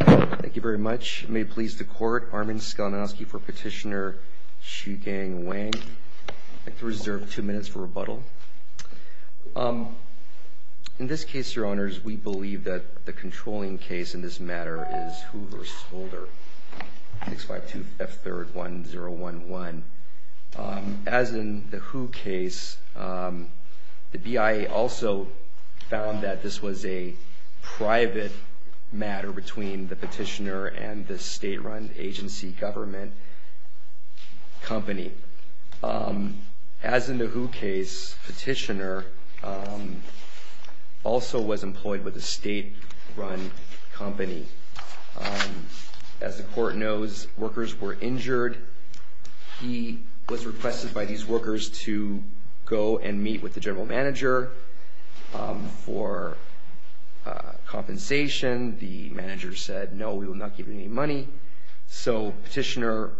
Thank you very much. May it please the court, Armin Skelniosky for Petitioner Shugang Wang. I'd like to reserve two minutes for rebuttal. In this case, Your Honors, we believe that the controlling case in this matter is Hu v. Holder, 652 F3rd 1011. As in the Hu case, the BIA also found that this was a private matter between the petitioner and the state-run agency government company. As in the Hu case, petitioner also was employed with a state-run company. As the court knows, workers were injured. He was requested by these workers to go and meet with the general manager for compensation. The manager said, no, we will not give you any money. So petitioner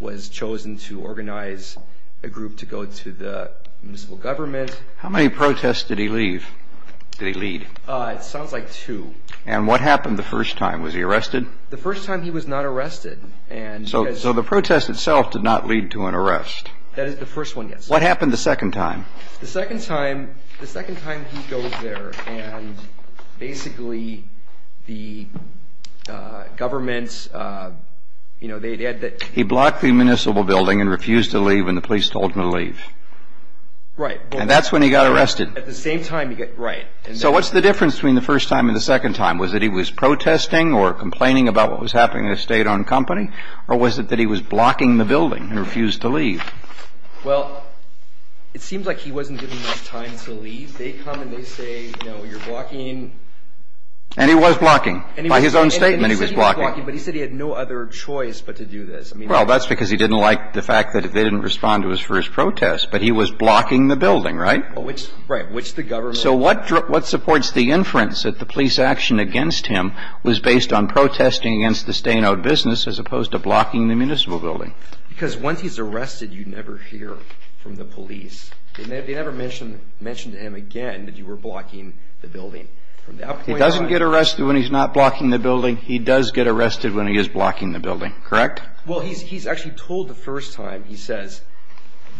was chosen to organize a group to go to the municipal government. How many protests did he lead? It sounds like two. And what happened the first time? Was he arrested? The first time he was not arrested. So the protest itself did not lead to an arrest. That is the first one, yes. What happened the second time? The second time, the second time he goes there and basically the government, you know, they had the He blocked the municipal building and refused to leave and the police told him to leave. Right. And that's when he got arrested. At the same time, right. So what's the difference between the first time and the second time? Was it he was protesting or complaining about what was happening in a state-owned company? Or was it that he was blocking the building and refused to leave? Well, it seems like he wasn't given enough time to leave. They come and they say, no, you're blocking. And he was blocking. By his own statement, he was blocking. But he said he had no other choice but to do this. Well, that's because he didn't like the fact that they didn't respond to his first protest. But he was blocking the building, right? Right. Which the government. So what supports the inference that the police action against him was based on protesting against the state-owned business as opposed to blocking the municipal building? Because once he's arrested, you never hear from the police. They never mention to him again that you were blocking the building. He doesn't get arrested when he's not blocking the building. He does get arrested when he is blocking the building. Correct? Well, he's actually told the first time, he says,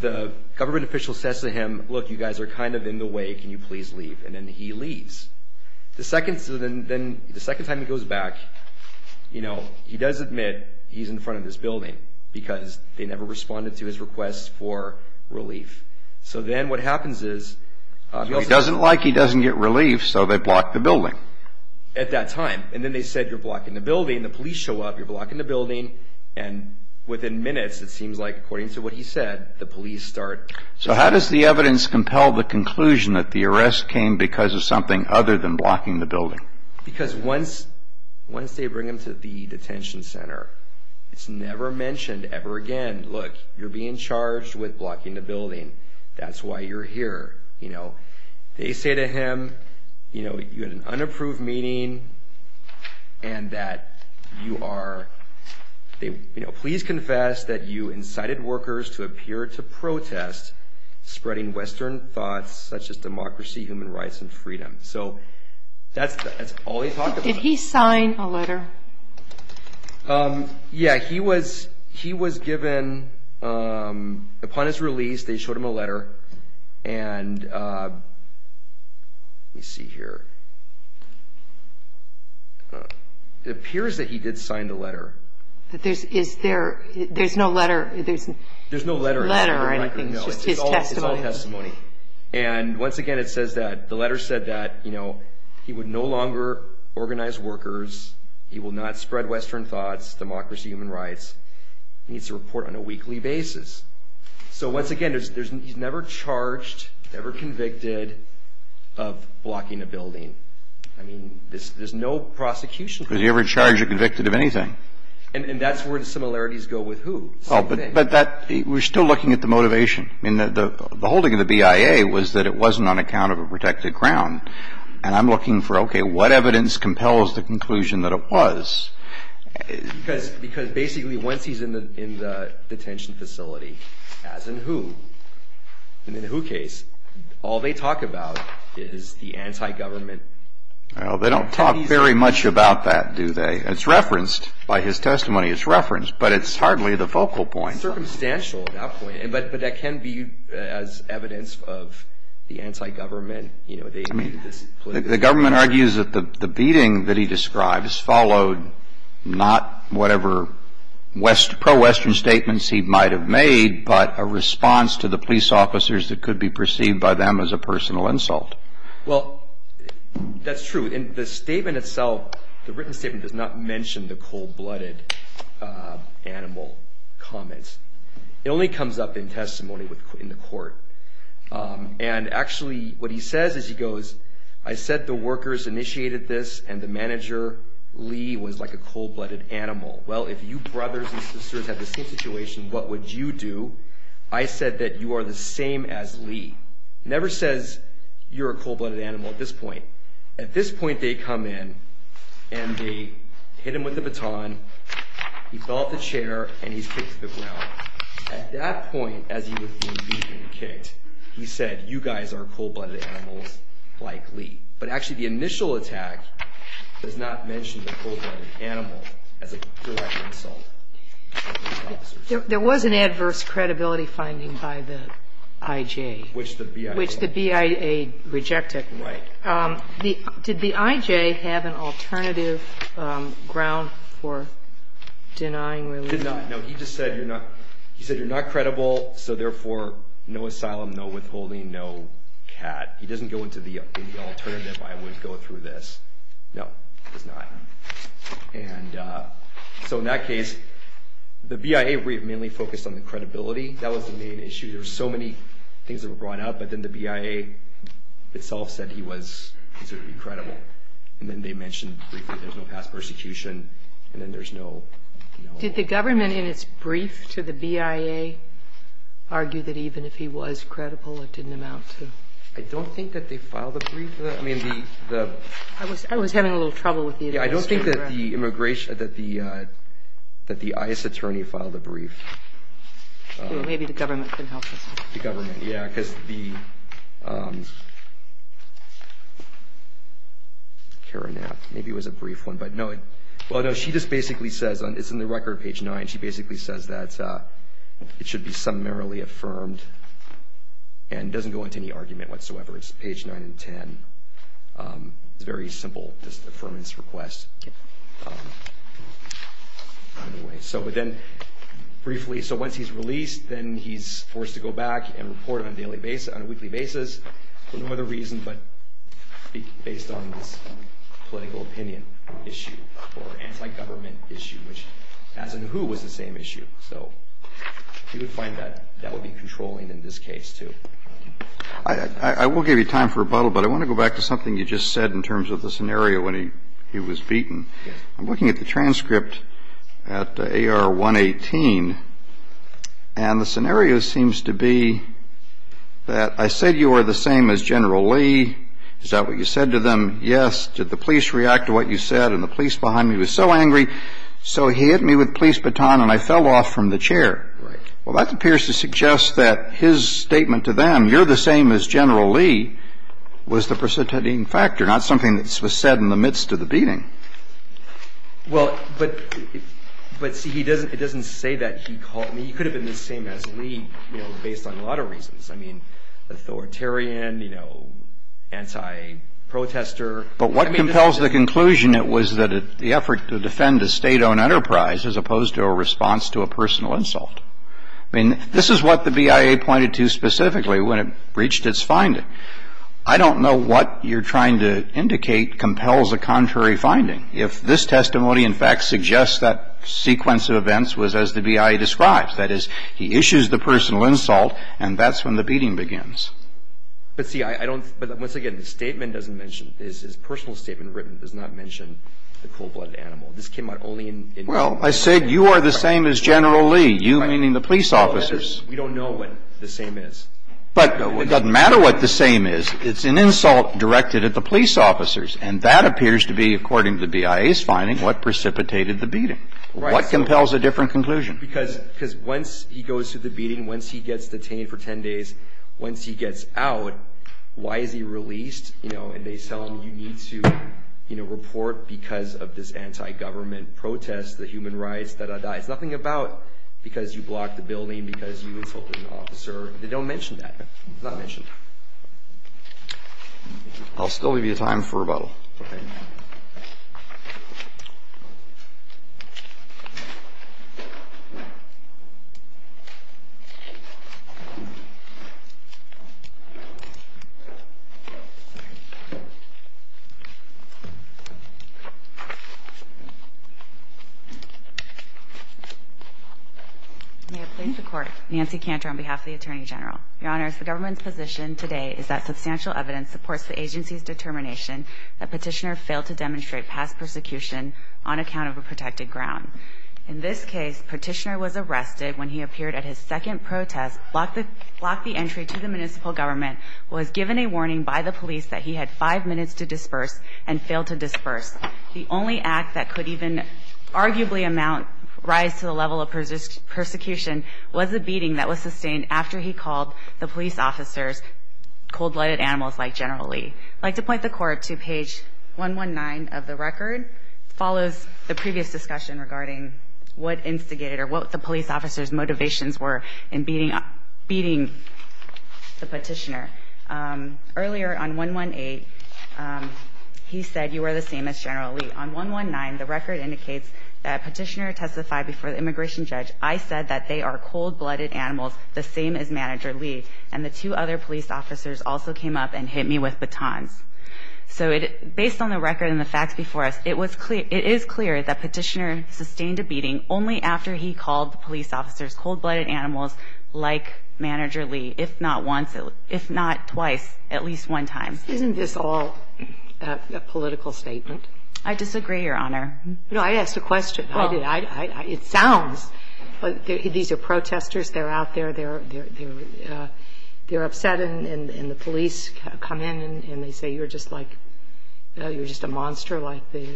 the government official says to him, look, you guys are kind of in the way, can you please leave? And then he leaves. The second time he goes back, you know, he does admit he's in front of this building because they never responded to his request for relief. So then what happens is... He doesn't like he doesn't get relief, so they block the building. At that time. And then they said, you're blocking the building. The police show up, you're blocking the building. And within minutes, it seems like, according to what he said, the police start... So how does the evidence compel the conclusion that the arrest came because of something other than blocking the building? Because once they bring him to the detention center, it's never mentioned ever again. Look, you're being charged with blocking the building. That's why you're here. They say to him, you had an unapproved meeting and that you are... spreading Western thoughts such as democracy, human rights, and freedom. So that's all he talked about. Did he sign a letter? Yeah, he was given... Upon his release, they showed him a letter. And let me see here. It appears that he did sign the letter. Is there... There's no letter. There's no letter. It's all testimony. And once again, it says that the letter said that he would no longer organize workers, he will not spread Western thoughts, democracy, human rights. He needs to report on a weekly basis. So once again, he's never charged, never convicted of blocking a building. There's no prosecution. Was he ever charged or convicted of anything? And that's where the similarities go with who. Oh, but that... We're still looking at the motivation. I mean, the holding of the BIA was that it wasn't on account of a protected ground. And I'm looking for, okay, what evidence compels the conclusion that it was... Because basically, once he's in the detention facility, as in who, in the who case, all they talk about is the anti-government... Well, they don't talk very much about that, do they? It's referenced by his testimony. It's referenced, but it's hardly the focal point. It's circumstantial at that point, but that can be as evidence of the anti-government. I mean, the government argues that the beating that he describes followed not whatever pro-Western statements he might have made, but a response to the police officers that could be perceived by them as a personal insult. Well, that's true. And the statement itself, the written statement, does not mention the cold-blooded animal comments. It only comes up in testimony in the court. And actually what he says is he goes, I said the workers initiated this, and the manager, Lee, was like a cold-blooded animal. Well, if you brothers and sisters had the same situation, what would you do? I said that you are the same as Lee. It never says you're a cold-blooded animal at this point. At this point they come in and they hit him with the baton. He fell off the chair, and he's kicked to the ground. At that point, as he was being beaten and kicked, he said you guys are cold-blooded animals like Lee. But actually the initial attack does not mention the cold-blooded animal as a direct insult. There was an adverse credibility finding by the I.J. Which the BIA rejected. Right. Did the I.J. have an alternative ground for denying Lee? He did not. No, he just said you're not credible, so therefore no asylum, no withholding, no cat. He doesn't go into the alternative, I would go through this. No, he does not. And so in that case, the BIA mainly focused on the credibility. That was the main issue. There were so many things that were brought up, but then the BIA itself said he was considered to be credible. And then they mentioned briefly there's no past persecution, and then there's no- Did the government in its brief to the BIA argue that even if he was credible it didn't amount to- I don't think that they filed a brief for that. I was having a little trouble with the- Maybe the government can help us. The government, yeah, because the- Maybe it was a brief one, but no. Well, no, she just basically says, it's in the record, page 9, she basically says that it should be summarily affirmed. And it doesn't go into any argument whatsoever. It's page 9 and 10. It's a very simple just affirmance request. Anyway, so but then briefly, so once he's released, then he's forced to go back and report on a weekly basis for no other reason but based on this political opinion issue or anti-government issue, which as in who was the same issue. So you would find that that would be controlling in this case, too. I will give you time for rebuttal, but I want to go back to something you just said in terms of the scenario when he was beaten. I'm looking at the transcript at AR 118, and the scenario seems to be that I said you were the same as General Lee. Is that what you said to them? Yes. Did the police react to what you said? And the police behind me was so angry, so he hit me with police baton and I fell off from the chair. Right. Well, that appears to suggest that his statement to them, you're the same as General Lee, was the preceding factor, not something that was said in the midst of the beating. Well, but see, it doesn't say that he called me. He could have been the same as Lee, you know, based on a lot of reasons. I mean, authoritarian, you know, anti-protester. But what compels the conclusion was that the effort to defend a state-owned enterprise as opposed to a response to a personal insult. I mean, this is what the BIA pointed to specifically when it reached its finding. I don't know what you're trying to indicate compels a contrary finding. If this testimony, in fact, suggests that sequence of events was as the BIA describes, that is, he issues the personal insult and that's when the beating begins. But see, I don't – but once again, the statement doesn't mention – his personal statement written does not mention the cold-blooded animal. This came out only in – Well, I said you are the same as General Lee, you meaning the police officers. We don't know what the same is. But it doesn't matter what the same is. It's an insult directed at the police officers. And that appears to be, according to the BIA's finding, what precipitated the beating. What compels a different conclusion? Because once he goes through the beating, once he gets detained for 10 days, once he gets out, why is he released? You know, and they tell him you need to, you know, report because of this anti-government protest, the human rights, da-da-da. It's nothing about because you blocked the building, because you insulted an officer. They don't mention that. It's not mentioned. I'll still give you time for rebuttal. Okay. May I plead the court? Nancy Cantor on behalf of the Attorney General. Your Honors, the government's position today is that substantial evidence supports the agency's determination that Petitioner failed to demonstrate past persecution on account of a protected ground. In this case, Petitioner was arrested when he appeared at his second protest, blocked the entry to the municipal government, was given a warning by the police that he had five minutes to disperse, and failed to disperse. The only act that could even arguably amount, rise to the level of persecution, was a beating that was sustained after he called the police officers cold-blooded animals like General Lee. I'd like to point the court to page 119 of the record. It follows the previous discussion regarding what instigated or what the police officers' motivations were in beating the Petitioner. Earlier, on 118, he said, you are the same as General Lee. On 119, the record indicates that Petitioner testified before the immigration judge, I said that they are cold-blooded animals, the same as Manager Lee, and the two other police officers also came up and hit me with batons. So based on the record and the facts before us, it is clear that Petitioner sustained a beating only after he called the police officers cold-blooded animals like Manager Lee, if not once, if not twice, at least one time. Isn't this all a political statement? I disagree, Your Honor. No, I asked a question. I did. It sounds. These are protesters. They're out there. They're upset, and the police come in, and they say you're just like, you're just a monster like the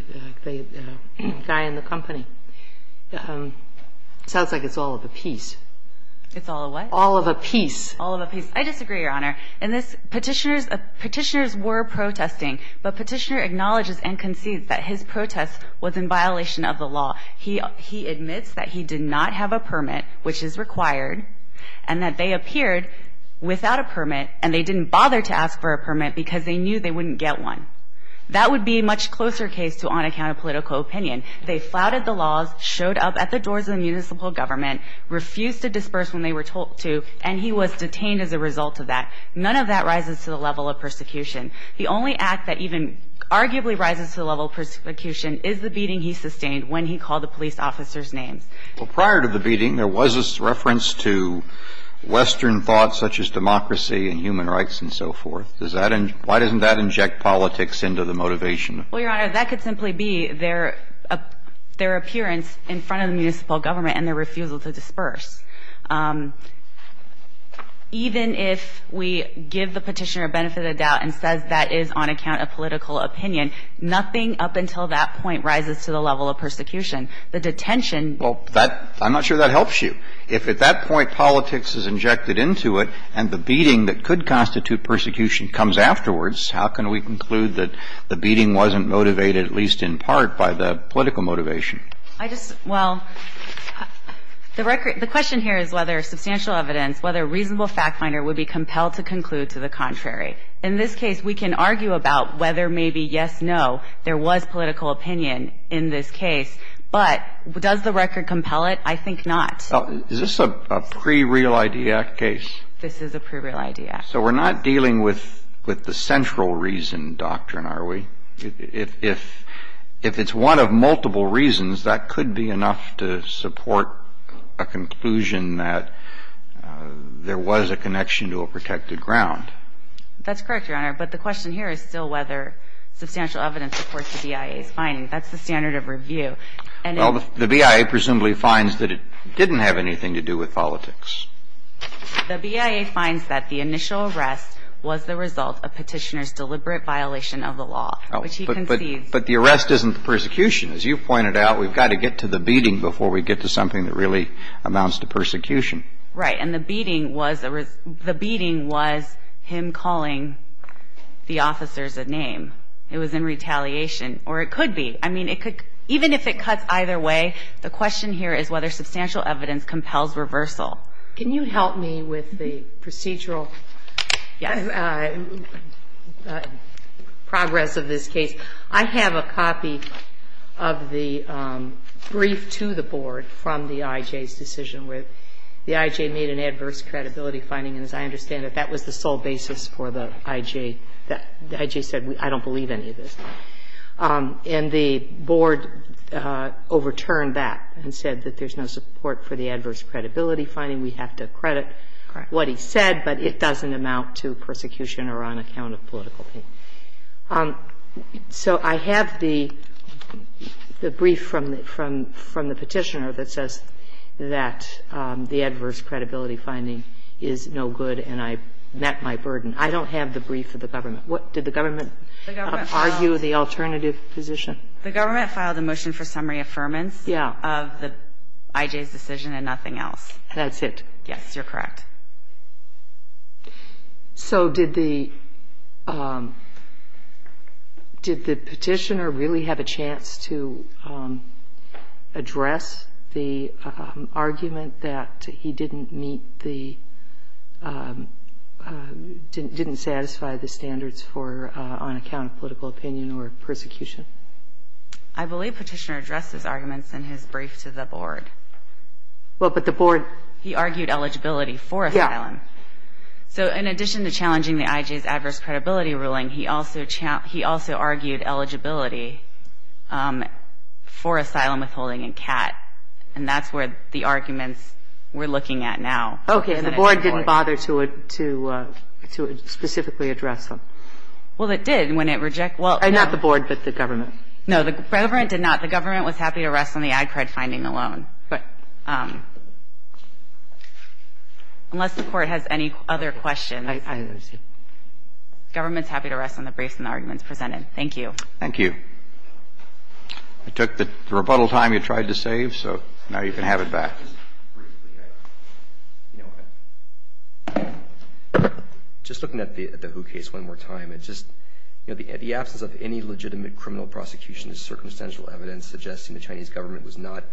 guy in the company. It sounds like it's all of a piece. It's all of what? All of a piece. All of a piece. I disagree, Your Honor. In this, Petitioners were protesting, but Petitioner acknowledges and concedes that his protest was in violation of the law. He admits that he did not have a permit, which is required, and that they appeared without a permit, and they didn't bother to ask for a permit because they knew they wouldn't get one. That would be a much closer case to on account of political opinion. They flouted the laws, showed up at the doors of the municipal government, refused to disperse when they were told to, and he was detained as a result of that. None of that rises to the level of persecution. The only act that even arguably rises to the level of persecution is the beating he sustained when he called the police officers' names. Well, prior to the beating, there was this reference to Western thoughts such as democracy and human rights and so forth. Why doesn't that inject politics into the motivation? Well, Your Honor, that could simply be their appearance in front of the municipal government and their refusal to disperse. Even if we give the Petitioner a benefit of the doubt and says that is on account of political opinion, nothing up until that point rises to the level of persecution. The detention ---- Well, I'm not sure that helps you. If at that point politics is injected into it and the beating that could constitute persecution comes afterwards, how can we conclude that the beating wasn't motivated at least in part by the political motivation? I just ---- Well, the record ---- the question here is whether substantial evidence, whether a reasonable fact finder would be compelled to conclude to the contrary. In this case, we can argue about whether maybe, yes, no, there was political opinion in this case, but does the record compel it? I think not. Is this a pre-Real Idea Act case? This is a pre-Real Idea Act. So we're not dealing with the central reason doctrine, are we? If it's one of multiple reasons, that could be enough to support a conclusion that there was a connection to a protected ground. That's correct, Your Honor, but the question here is still whether substantial evidence supports the BIA's finding. That's the standard of review. Well, the BIA presumably finds that it didn't have anything to do with politics. The BIA finds that the initial arrest was the result of Petitioner's deliberate violation of the law, which he concedes. But the arrest isn't the persecution. As you pointed out, we've got to get to the beating before we get to something that really amounts to persecution. Right. And the beating was a ---- the beating was him calling the officers a name. It was in retaliation, or it could be. I mean, it could ---- even if it cuts either way, the question here is whether substantial evidence compels reversal. Can you help me with the procedural progress of this case? I have a copy of the brief to the Board from the IJ's decision where the IJ made an adverse credibility finding, and as I understand it, that was the sole basis for the IJ. The IJ said, I don't believe any of this. And the Board overturned that and said that there's no support for the adverse credibility finding. We have to credit what he said, but it doesn't amount to persecution or on account of political pain. So I have the brief from the Petitioner that says that the adverse credibility finding is no good, and I met my burden. I don't have the brief of the government. Did the government argue the alternative position? The government filed a motion for summary affirmance of the IJ's decision and nothing else. That's it? Yes, you're correct. So did the Petitioner really have a chance to address the argument that he didn't meet the, didn't satisfy the standards for on account of political opinion or persecution? I believe Petitioner addressed his arguments in his brief to the Board. Well, but the Board... He argued eligibility for asylum. Yeah. So in addition to challenging the IJ's adverse credibility ruling, he also Okay. And the Board didn't bother to specifically address them? Well, it did when it rejected... Not the Board, but the government. No, the government did not. The government was happy to rest on the ad cred finding alone. But unless the Court has any other questions... I understand. ...the government's happy to rest on the briefs and the arguments presented. Thank you. Thank you. I took the rebuttal time you tried to save, so now you can have it back. Just looking at the Hu case one more time, it's just, you know, the absence of any legitimate criminal prosecution is circumstantial evidence suggesting the Chinese government was not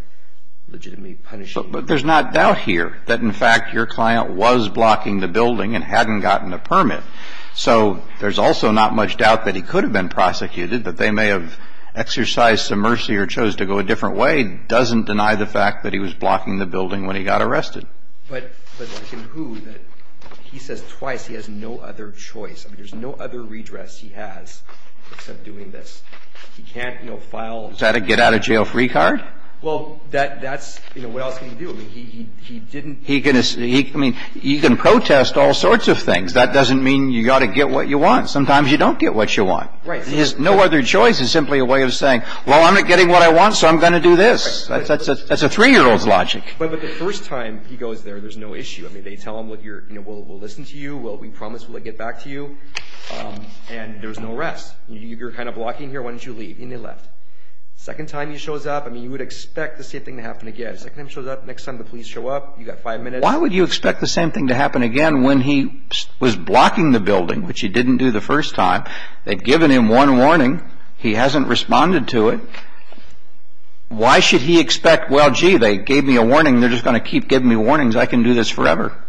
legitimately punishing... But there's not doubt here that, in fact, your client was blocking the building and hadn't gotten a permit. So there's also not much doubt that he could have been prosecuted, that they may have exercised some mercy or chose to go a different way. It doesn't deny the fact that he was blocking the building when he got arrested. But in Hu, he says twice he has no other choice. I mean, there's no other redress he has except doing this. He can't, you know, file... Is that a get-out-of-jail-free card? Well, that's, you know, what else can he do? I mean, he can protest all sorts of things. That doesn't mean you've got to get what you want. Sometimes you don't get what you want. Right. His no other choice is simply a way of saying, well, I'm not getting what I want, so I'm going to do this. That's a three-year-old's logic. But the first time he goes there, there's no issue. I mean, they tell him, you know, we'll listen to you. We promise we'll get back to you. And there's no arrest. You're kind of blocking here. Why don't you leave? And he left. Second time he shows up, I mean, you would expect the same thing to happen again. Second time he shows up, next time the police show up, you've got five minutes. Why would you expect the same thing to happen again when he was blocking the building, which he didn't do the first time? They'd given him one warning. He hasn't responded to it. Why should he expect, well, gee, they gave me a warning. They're just going to keep giving me warnings. I can do this forever.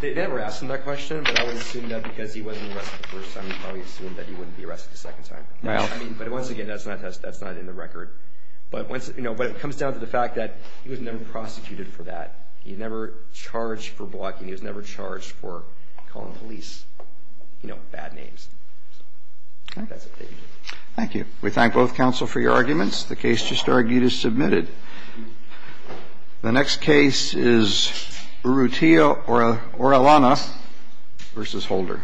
They never asked him that question, but I would assume that because he wasn't arrested the first time, he probably assumed that he wouldn't be arrested the second time. But once again, that's not in the record. But it comes down to the fact that he was never prosecuted for that. He never charged for blocking. He was never charged for calling police, you know, bad names. That's it. Thank you. We thank both counsel for your arguments. The case just argued is submitted. The next case is Urrutia Orellana v. Holder. Thank you. Thank you.